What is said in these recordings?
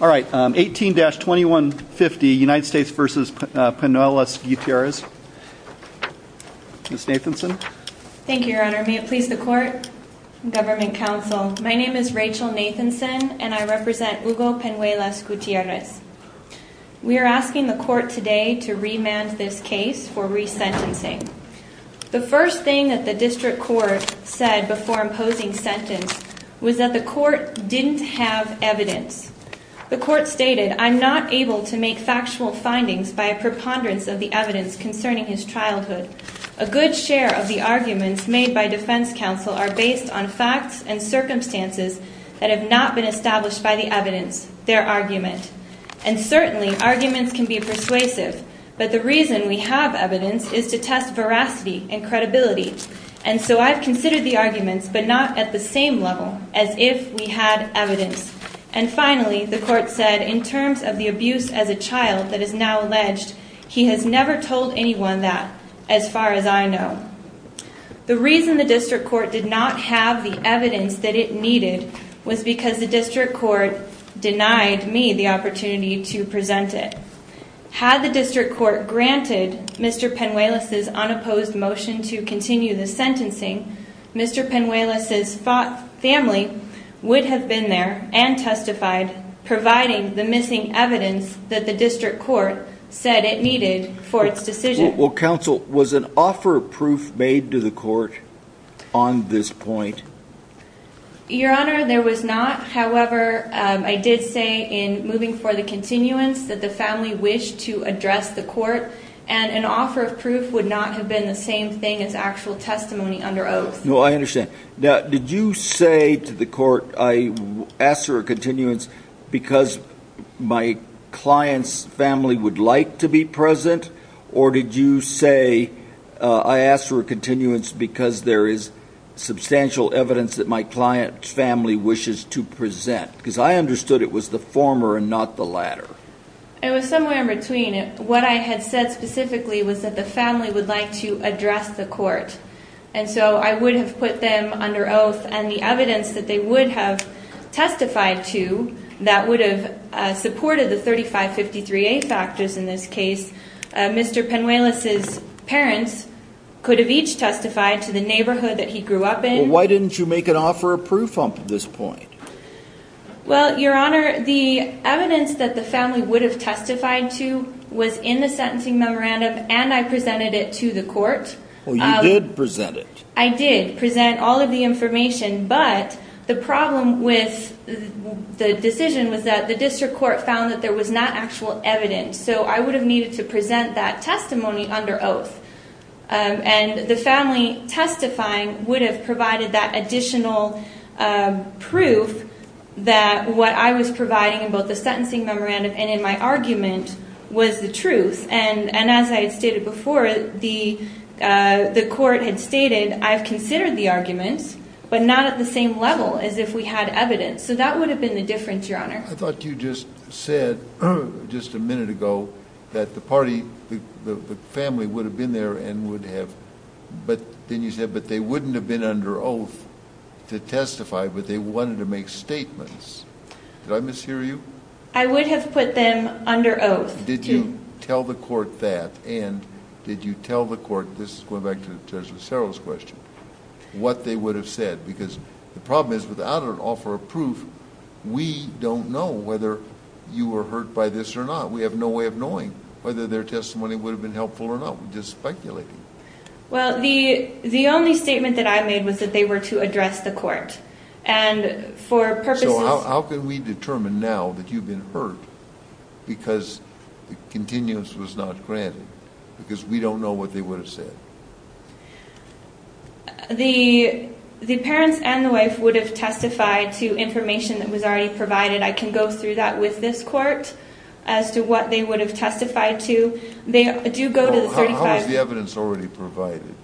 All right, 18-2150 United States v. Penuelas-Gutierrez Ms. Nathanson. Thank you, your honor. May it please the court Government counsel. My name is Rachel Nathanson, and I represent Hugo Penuelas-Gutierrez We are asking the court today to remand this case for resentencing The first thing that the district court said before imposing sentence was that the court didn't have Evidence. The court stated, I'm not able to make factual findings by a preponderance of the evidence concerning his childhood a good share of the arguments made by defense counsel are based on facts and Circumstances that have not been established by the evidence their argument and certainly arguments can be persuasive But the reason we have evidence is to test veracity and credibility And so I've considered the arguments but not at the same level as if we had evidence Finally the court said in terms of the abuse as a child that is now alleged He has never told anyone that as far as I know The reason the district court did not have the evidence that it needed was because the district court Denied me the opportunity to present it Had the district court granted Mr. Penuelas' unopposed motion to continue the sentencing Mr. Penuelas' family would have been there and testified Providing the missing evidence that the district court said it needed for its decision Well counsel was an offer of proof made to the court on this point Your honor there was not however I did say in moving for the continuance that the family wished to address the court and An offer of proof would not have been the same thing as actual testimony under oath. No, I understand now did you say to the court I asked for a continuance because My client's family would like to be present or did you say I asked for a continuance because there is Substantial evidence that my client's family wishes to present because I understood it was the former and not the latter It was somewhere in between it what I had said specifically was that the family would like to address the court And so I would have put them under oath and the evidence that they would have Testified to that would have supported the 3553 a factors in this case Mr. Penuelas' Parents could have each testified to the neighborhood that he grew up in why didn't you make an offer of proof up at this point? Well, your honor the evidence that the family would have testified to was in the sentencing memorandum And I presented it to the court. Well, you did present it I did present all of the information, but the problem with The decision was that the district court found that there was not actual evidence So I would have needed to present that testimony under oath And the family testifying would have provided that additional Proof that what I was providing in both the sentencing memorandum and in my argument was the truth and and as I had stated before the The court had stated I've considered the arguments but not at the same level as if we had evidence So that would have been the difference your honor. I thought you just said Just a minute ago that the party the family would have been there and would have But then you said but they wouldn't have been under oath To testify, but they wanted to make statements Did I mishear you? I would have put them under oath Did you tell the court that and did you tell the court this is going back to the judge of several's question? What they would have said because the problem is without an offer of proof We don't know whether you were hurt by this or not We have no way of knowing whether their testimony would have been helpful or not. We just speculating Well, the the only statement that I made was that they were to address the court and For purposes, how can we determine now that you've been hurt? Because the continuance was not granted because we don't know what they would have said The The parents and the wife would have testified to information that was already provided I can go through that with this court as to what they would have testified to they do go to the 35 evidence already provided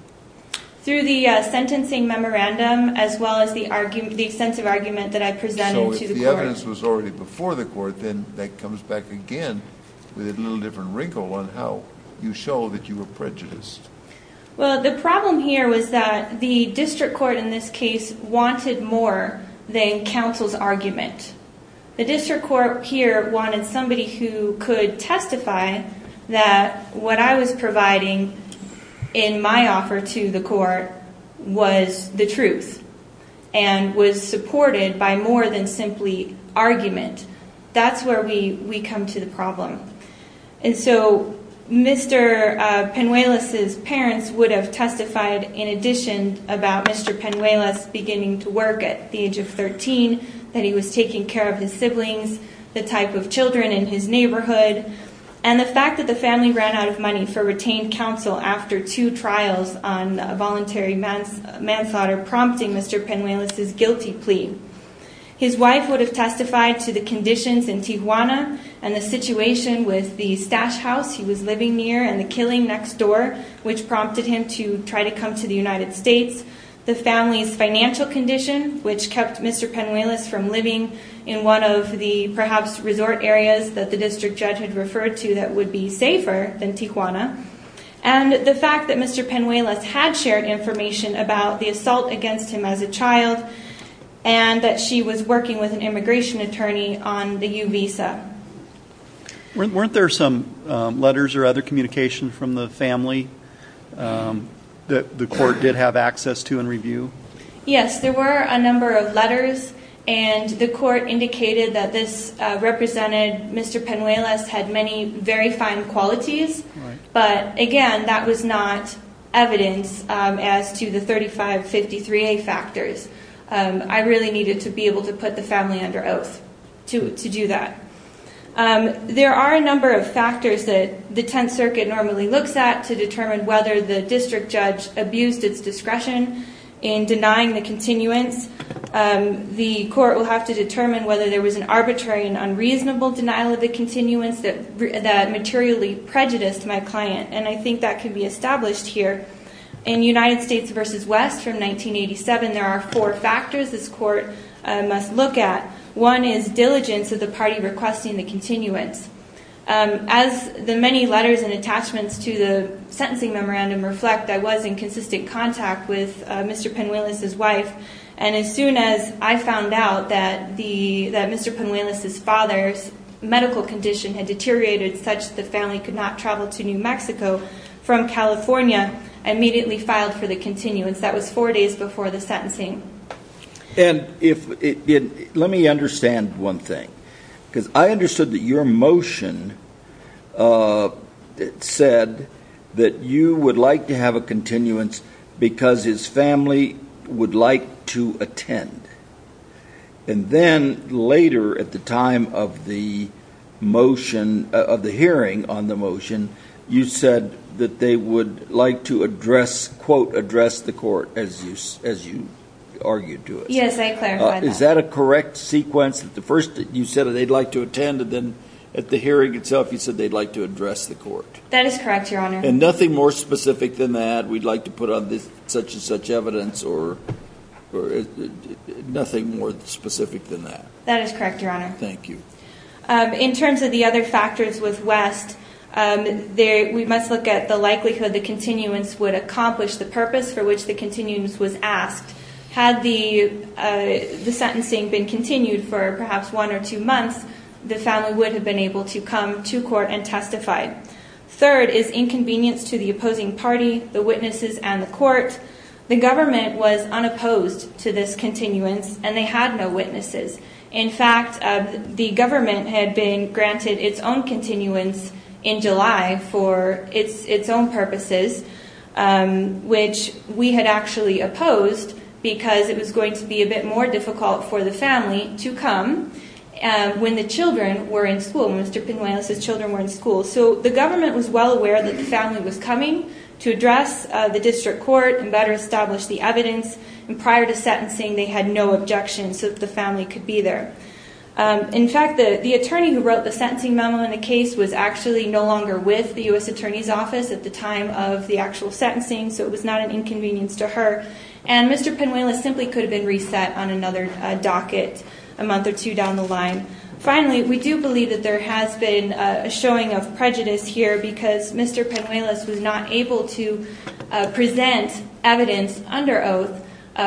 through the Sentencing memorandum as well as the argument the extensive argument that I presented to the evidence was already before the court Then that comes back again with a little different wrinkle on how you show that you were prejudiced Well, the problem here was that the district court in this case wanted more than counsel's argument the district court here wanted somebody who could testify that What I was providing in my offer to the court was the truth and Was supported by more than simply argument. That's where we we come to the problem and so Mr. Penuelos's parents would have testified in addition about mr Penuelos beginning to work at the age of 13 that he was taking care of his siblings The type of children in his neighborhood and the fact that the family ran out of money for retained counsel after two trials on Voluntary manslaughter prompting mr. Penuelos's guilty plea His wife would have testified to the conditions in Tijuana and the situation with the stash house He was living near and the killing next door which prompted him to try to come to the United States the family's financial condition Which kept mr Penuelos from living in one of the perhaps resort areas that the district judge had referred to that would be safer than Tijuana and The fact that mr. Penuelos had shared information about the assault against him as a child and That she was working with an immigration attorney on the uvisa Weren't there some letters or other communication from the family That the court did have access to and review yes, there were a number of letters and the court indicated that this Represented mr. Penuelos had many very fine qualities But again, that was not evidence as to the 3553 a factors I really needed to be able to put the family under oath to do that There are a number of factors that the Tenth Circuit normally looks at to determine whether the district judge abused its discretion in denying the continuance The court will have to determine whether there was an arbitrary and unreasonable denial of the continuance that that materially Prejudiced my client and I think that could be established here in United States versus West from 1987 There are four factors. This court must look at one is diligence of the party requesting the continuance As the many letters and attachments to the sentencing memorandum reflect. I was in consistent contact with mr Penuelos his wife and as soon as I found out that the that mr Penuelos his father's medical condition had deteriorated such the family could not travel to New Mexico from California Immediately filed for the continuance that was four days before the sentencing And if it let me understand one thing because I understood that your motion It said that you would like to have a continuance because his family would like to attend and then later at the time of the Motion of the hearing on the motion You said that they would like to address quote address the court as you as you argued to it Yes, is that a correct sequence at the first you said they'd like to attend and then at the hearing itself You said they'd like to address the court. That is correct, Your Honor and nothing more specific than that we'd like to put on this such-and-such evidence or Nothing more specific than that that is correct, Your Honor. Thank you In terms of the other factors with West there we must look at the likelihood the continuance would accomplish the purpose for which the continuance was asked had the The sentencing been continued for perhaps one or two months the family would have been able to come to court and testify Third is inconvenience to the opposing party the witnesses and the court The government was unopposed to this continuance and they had no witnesses In fact, the government had been granted its own continuance in July for its its own purposes Which we had actually opposed because it was going to be a bit more difficult for the family to come When the children were in school, Mr. Pinoales's children were in school So the government was well aware that the family was coming to address The district court and better establish the evidence and prior to sentencing they had no objection so that the family could be there In fact the the attorney who wrote the sentencing memo in the case was actually no longer with the US Attorney's Office at the time Of the actual sentencing so it was not an inconvenience to her and Mr Pinoales simply could have been reset on another docket a month or two down the line Finally, we do believe that there has been a showing of prejudice here because Mr Pinoales was not able to present evidence under oath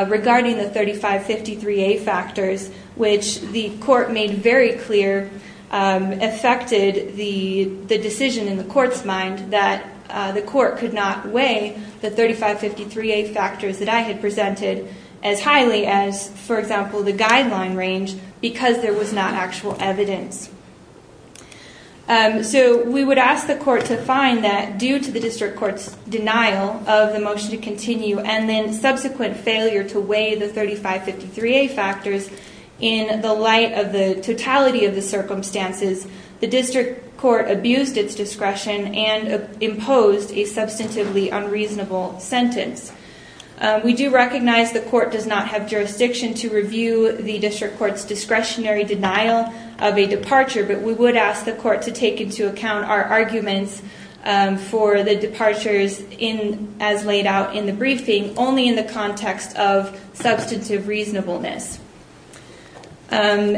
Regarding the 3553 a factors which the court made very clear affected the the decision in the court's mind that the court could not weigh the 3553 a factors that I had presented as highly as for example the guideline range because there was not actual evidence So we would ask the court to find that due to the district court's denial of the motion to continue and then Subsequent failure to weigh the 3553 a factors in the light of the totality of the circumstances The district court abused its discretion and imposed a substantively unreasonable sentence We do recognize the court does not have jurisdiction to review the district court's discretionary denial of a departure But we would ask the court to take into account our arguments For the departures in as laid out in the briefing only in the context of substantive reasonableness On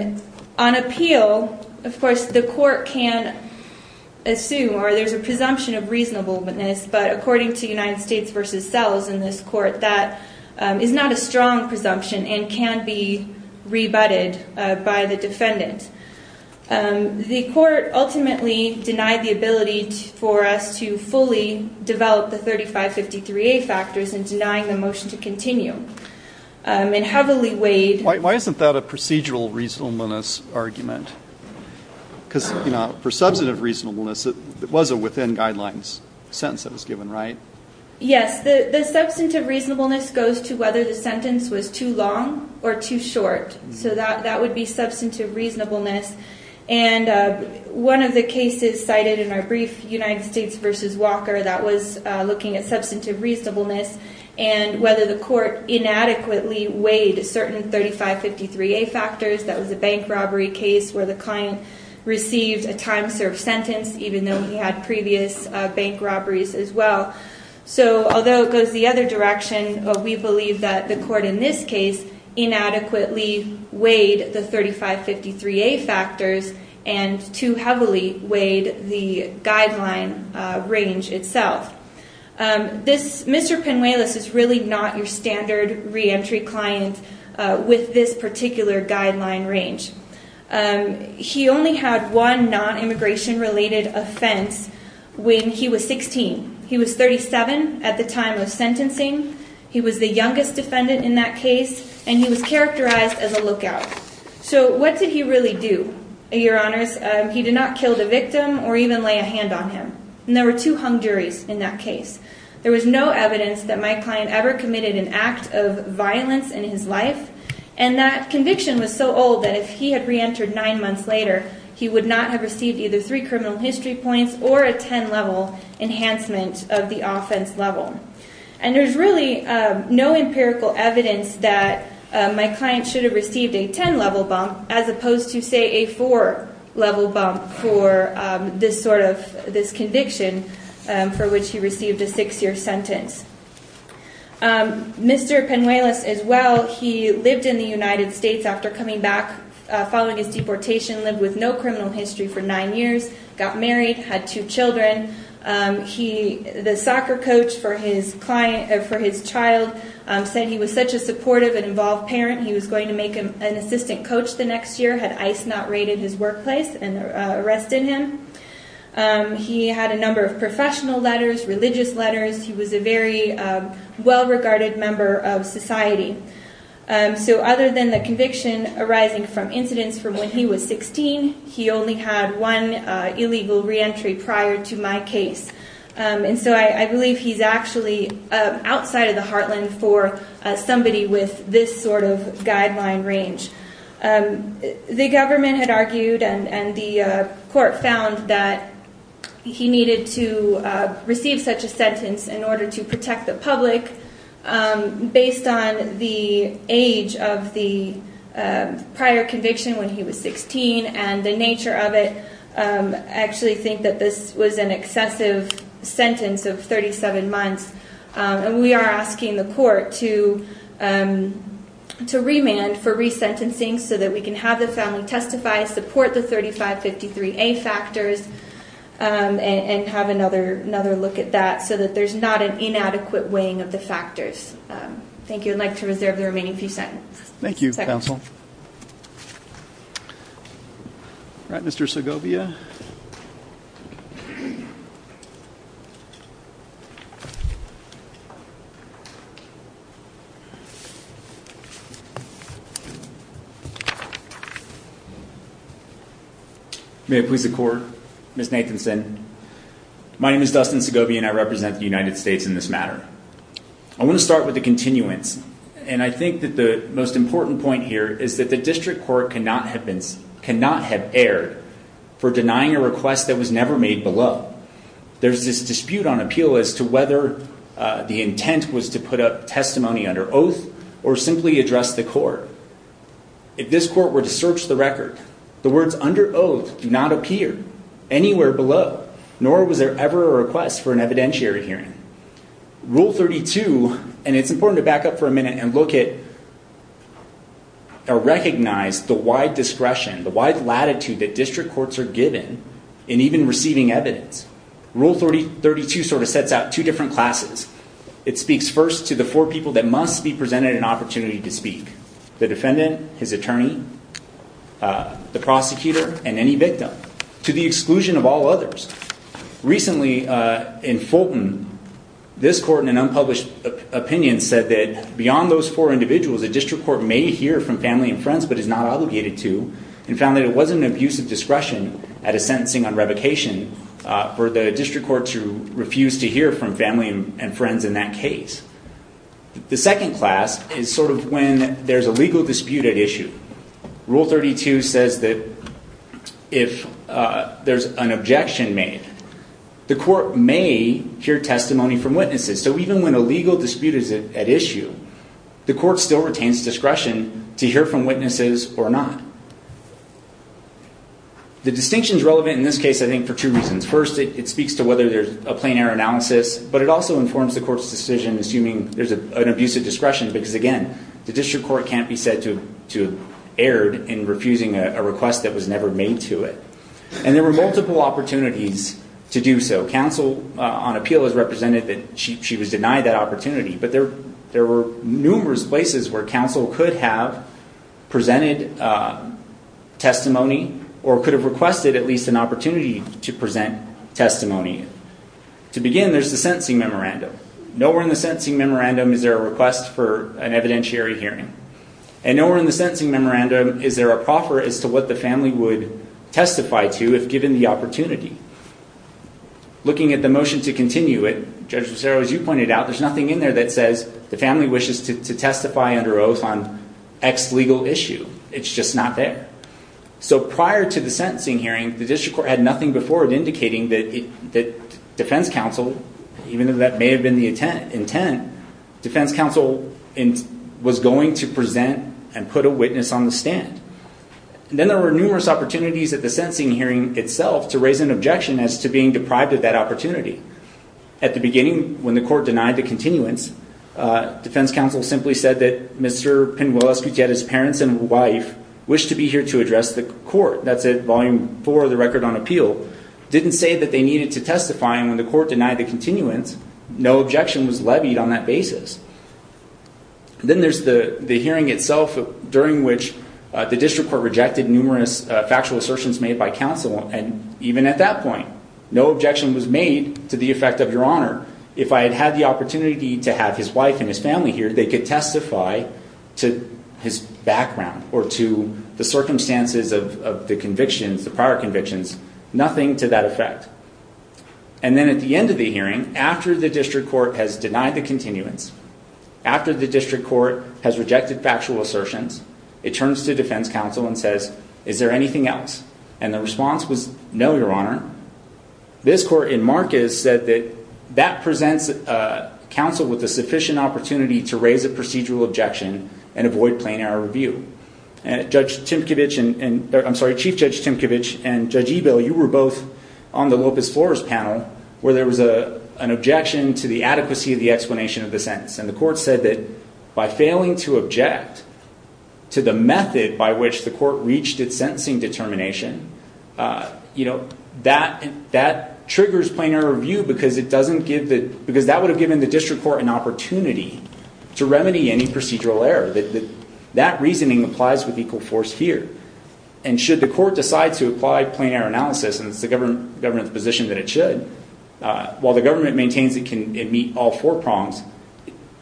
appeal of course the court can assume or there's a presumption of reasonableness, but according to United States versus cells in this court that Is not a strong presumption and can be rebutted by the defendant The court ultimately denied the ability for us to fully develop the 3553 a factors and denying the motion to continue And heavily weighed why isn't that a procedural reasonableness argument? Because you know for substantive reasonableness it was a within guidelines sentence that was given, right? Yes, the the substantive reasonableness goes to whether the sentence was too long or too short so that that would be substantive reasonableness and one of the cases cited in our brief United States versus Walker that was looking at substantive reasonableness and Whether the court inadequately weighed a certain 3553 a factors that was a bank robbery case where the client Received a time-served sentence even though he had previous bank robberies as well So although it goes the other direction of we believe that the court in this case Inadequately weighed the 3553 a factors and too heavily weighed the guideline range itself This mr. Penuelos is really not your standard re-entry client with this particular guideline range He only had one non-immigration related offense When he was 16, he was 37 at the time of sentencing He was the youngest defendant in that case and he was characterized as a lookout So what did he really do your honors? He did not kill the victim or even lay a hand on him and there were two hung juries in that case there was no evidence that my client ever committed an act of violence in his life and That conviction was so old that if he had re-entered nine months later He would not have received either three criminal history points or a 10 level Enhancement of the offense level and there's really no empirical evidence that My client should have received a 10 level bump as opposed to say a 4 level bump for This sort of this conviction for which he received a six-year sentence Mr. Penuelos as well. He lived in the United States after coming back Following his deportation lived with no criminal history for nine years got married had two children He the soccer coach for his client for his child said he was such a supportive and involved parent He was going to make him an assistant coach. The next year had ice not raided his workplace and arrested him He had a number of professional letters religious letters. He was a very well regarded member of society So other than the conviction arising from incidents from when he was 16, he only had one Illegal re-entry prior to my case And so I believe he's actually outside of the heartland for somebody with this sort of guideline range the government had argued and and the court found that He needed to receive such a sentence in order to protect the public based on the age of the Prior conviction when he was 16 and the nature of it actually think that this was an excessive sentence of 37 months and we are asking the court to To remand for resentencing so that we can have the family testify support the 3553 a factors And have another another look at that so that there's not an inadequate weighing of the factors Thank you. I'd like to reserve the remaining few seconds. Thank you counsel All right, mr. Segovia May I please the court miss Nathanson My name is Dustin Segovia and I represent the United States in this matter I want to start with the continuance and I think that the most important point here Is that the district court cannot have been cannot have erred for denying a request that was never made below There's this dispute on appeal as to whether The intent was to put up testimony under oath or simply address the court If this court were to search the record the words under oath do not appear Anywhere below nor was there ever a request for an evidentiary hearing? Rule 32 and it's important to back up for a minute and look at Now recognize the wide discretion the wide latitude that district courts are given in even receiving evidence Rule 30 32 sort of sets out two different classes It speaks first to the four people that must be presented an opportunity to speak the defendant his attorney The prosecutor and any victim to the exclusion of all others recently in Fulton This court in an unpublished Opinion said that beyond those four individuals a district court may hear from family and friends But is not obligated to and found that it wasn't an abuse of discretion at a sentencing on revocation For the district court to refuse to hear from family and friends in that case The second class is sort of when there's a legal dispute at issue rule 32 says that if There's an objection made the court may hear testimony from witnesses So even when a legal dispute is at issue the court still retains discretion to hear from witnesses or not The distinctions relevant in this case, I think for two reasons first it speaks to whether there's a plain error analysis But it also informs the court's decision assuming there's a an abuse of discretion because again The district court can't be said to to erred in refusing a request that was never made to it And there were multiple opportunities to do so counsel on appeal has represented that she was denied that opportunity But there there were numerous places where counsel could have presented Testimony or could have requested at least an opportunity to present testimony To begin there's the sentencing memorandum nowhere in the sentencing memorandum Is there a request for an evidentiary hearing and nowhere in the sentencing memorandum? Is there a proffer as to what the family would testify to if given the opportunity? Looking at the motion to continue it judges. There was you pointed out There's nothing in there that says the family wishes to testify under oath on X legal issue. It's just not there so prior to the sentencing hearing the district court had nothing before it indicating that it that Defense counsel even though that may have been the intent intent Defense counsel in was going to present and put a witness on the stand And then there were numerous opportunities at the sentencing hearing itself to raise an objection as to being deprived of that opportunity At the beginning when the court denied the continuance Defense counsel simply said that mr. Pin will execute yet his parents and wife wished to be here to address the court That's it volume for the record on appeal didn't say that they needed to testify and when the court denied the continuance No objection was levied on that basis Then there's the the hearing itself during which the district court rejected numerous factual assertions made by counsel and even at that point No objection was made to the effect of your honor If I had had the opportunity to have his wife and his family here They could testify to his background or to the circumstances of the convictions the prior convictions nothing to that effect and After the district court has denied the continuance After the district court has rejected factual assertions It turns to defense counsel and says is there anything else and the response was no your honor this court in Marcus said that that presents a counsel with a sufficient opportunity to raise a procedural objection and avoid plain-air review and Judge Tim Kovich and I'm sorry chief judge Tim Kovich and judge e bill You were both on the Lopez Flores panel where there was a an objection to the adequacy of the explanation of the sentence And the court said that by failing to object To the method by which the court reached its sentencing determination You know that that triggers plain-air review because it doesn't give that because that would have given the district court an opportunity to remedy any procedural error that that reasoning applies with equal force here and Should the court decide to apply plain-air analysis and it's the government government's position that it should While the government maintains it can meet all four prongs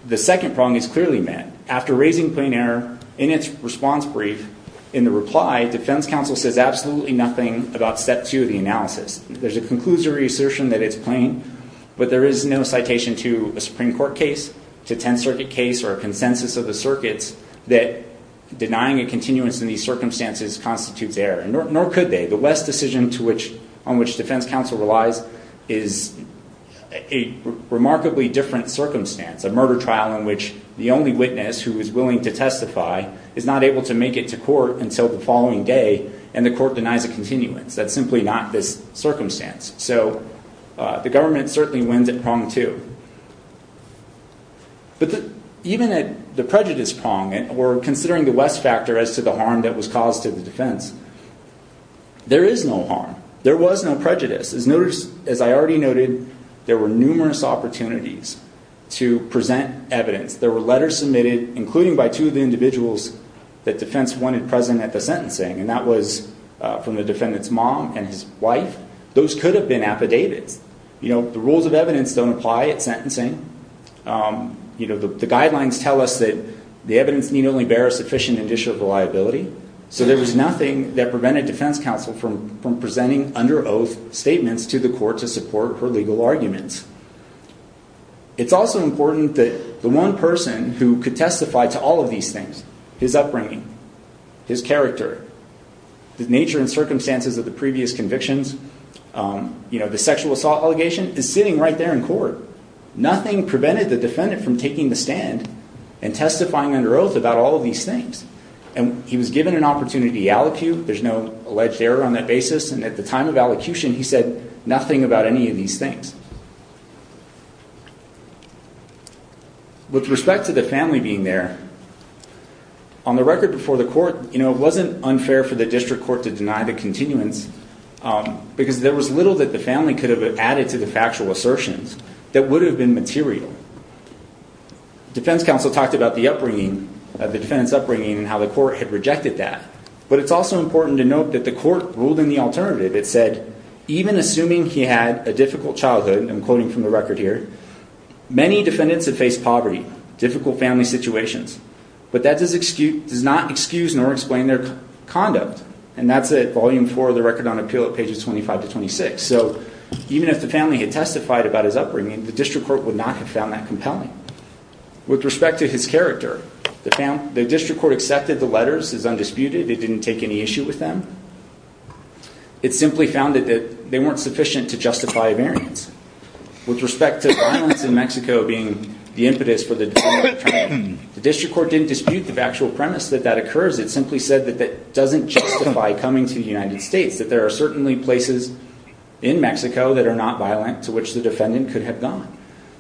The second prong is clearly met after raising plain-air in its response brief in the reply Defense counsel says absolutely nothing about step two of the analysis There's a conclusory assertion that it's plain but there is no citation to a Supreme Court case to 10th Circuit case or a consensus of the circuits that Denying a continuance in these circumstances constitutes error and nor could they the West decision to which on which defense counsel relies is a Remarkably different circumstance a murder trial in which the only witness who is willing to testify Is not able to make it to court until the following day and the court denies a continuance. That's simply not this circumstance. So The government certainly wins at prong two But even at the prejudice prong and we're considering the West factor as to the harm that was caused to the defense There is no harm. There was no prejudice as notice as I already noted there were numerous opportunities To present evidence there were letters submitted including by two of the individuals that defense wanted present at the sentencing and that was From the defendants mom and his wife those could have been affidavits You know the rules of evidence don't apply at sentencing You know the guidelines tell us that the evidence need only bear a sufficient initial reliability So there was nothing that prevented defense counsel from from presenting under oath statements to the court to support her legal arguments It's also important that the one person who could testify to all of these things his upbringing his character the nature and circumstances of the previous convictions You know the sexual assault allegation is sitting right there in court nothing prevented the defendant from taking the stand and Testifying under oath about all of these things and he was given an opportunity to allocute There's no alleged error on that basis. And at the time of allocution, he said nothing about any of these things With respect to the family being there on the record before the court, you know, it wasn't unfair for the district court to deny the continuance Because there was little that the family could have added to the factual assertions that would have been material Defense counsel talked about the upbringing of the defendants upbringing and how the court had rejected that But it's also important to note that the court ruled in the alternative It said even assuming he had a difficult childhood and quoting from the record here Many defendants have faced poverty difficult family situations, but that does excuse does not excuse nor explain their conduct And that's a volume for the record on appeal at pages 25 to 26 So even if the family had testified about his upbringing the district court would not have found that compelling With respect to his character the family the district court accepted the letters is undisputed. It didn't take any issue with them It simply found that they weren't sufficient to justify a variance with respect to violence in Mexico being the impetus for the Coming to the United States that there are certainly places in Mexico that are not violent to which the defendant could have gone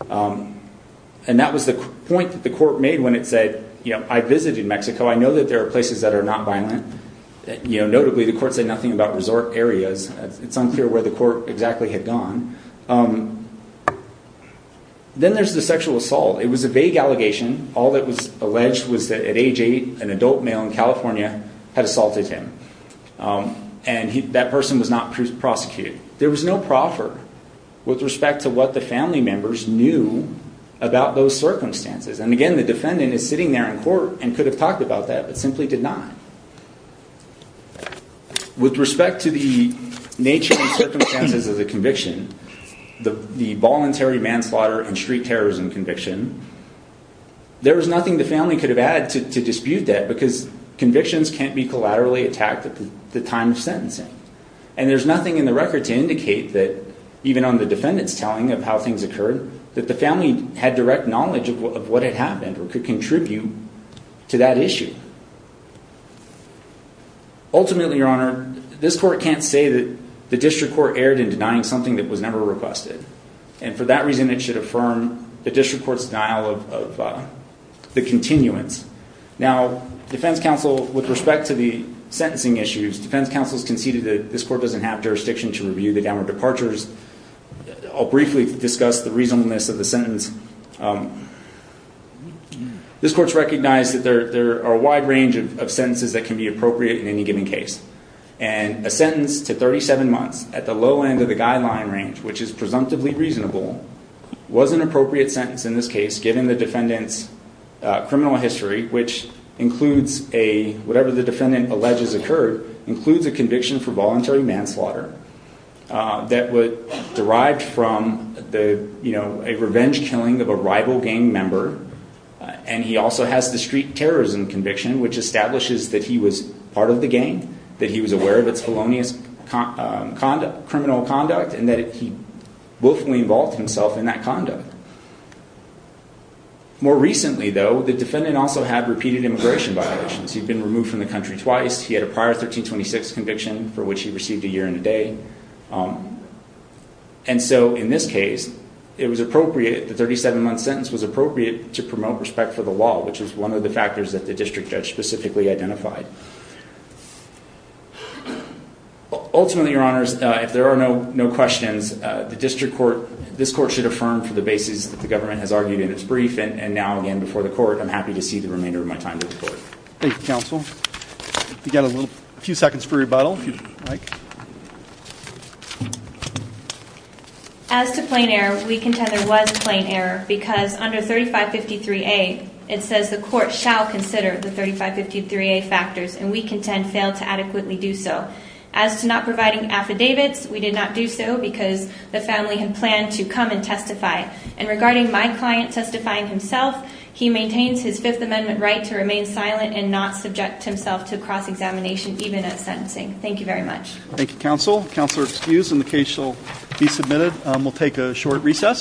And that was the point that the court made when it said, you know, I visited Mexico I know that there are places that are not violent You know notably the court said nothing about resort areas. It's unclear where the court exactly had gone Then there's the sexual assault it was a vague allegation All that was alleged was that at age eight an adult male in California had assaulted him And he that person was not prosecuted. There was no proffer with respect to what the family members knew About those circumstances and again, the defendant is sitting there in court and could have talked about that but simply did not With respect to the nature and circumstances of the conviction the the voluntary manslaughter and street terrorism conviction There was nothing the family could have added to dispute that because convictions can't be collaterally attacked at the time of sentencing And there's nothing in the record to indicate that even on the defendant's telling of how things occurred that the family had direct knowledge of what had happened or could contribute to that issue Ultimately, your honor, this court can't say that the district court erred in denying something that was never requested And for that reason it should affirm the district court's denial of the continuance Now defense counsel with respect to the sentencing issues defense counsel's conceded that this court doesn't have jurisdiction to review the downward departures I'll briefly discuss the reasonableness of the sentence This court's recognized that there are a wide range of sentences that can be appropriate in any given case and A sentence to 37 months at the low end of the guideline range which is presumptively reasonable was an appropriate sentence in this case given the defendant's criminal history Which includes a whatever the defendant alleges occurred includes a conviction for voluntary manslaughter That would derive from the you know a revenge killing of a rival gang member And he also has the street terrorism conviction which establishes that he was part of the gang that he was aware of its felonious conduct criminal conduct and that he willfully involved himself in that conduct More recently, though, the defendant also had repeated immigration violations. He'd been removed from the country twice. He had a prior 1326 conviction for which he received a year and a day And so in this case it was appropriate the 37 month sentence was appropriate to promote respect for the law Which is one of the factors that the district judge specifically identified Ultimately your honors if there are no no questions The district court this court should affirm for the basis that the government has argued in its brief and now again before the court I'm happy to see the remainder of my time counsel You got a little few seconds for rebuttal As To plain air we contend there was a plane error because under 3553 a it says the court shall consider the 3553 a Factors and we contend failed to adequately do so as to not providing affidavits We did not do so because the family had planned to come and testify and regarding my client testifying himself He maintains his Fifth Amendment right to remain silent and not subject himself to cross-examination even as sentencing. Thank you very much Thank you counsel counselor excused and the case shall be submitted. We'll take a short recess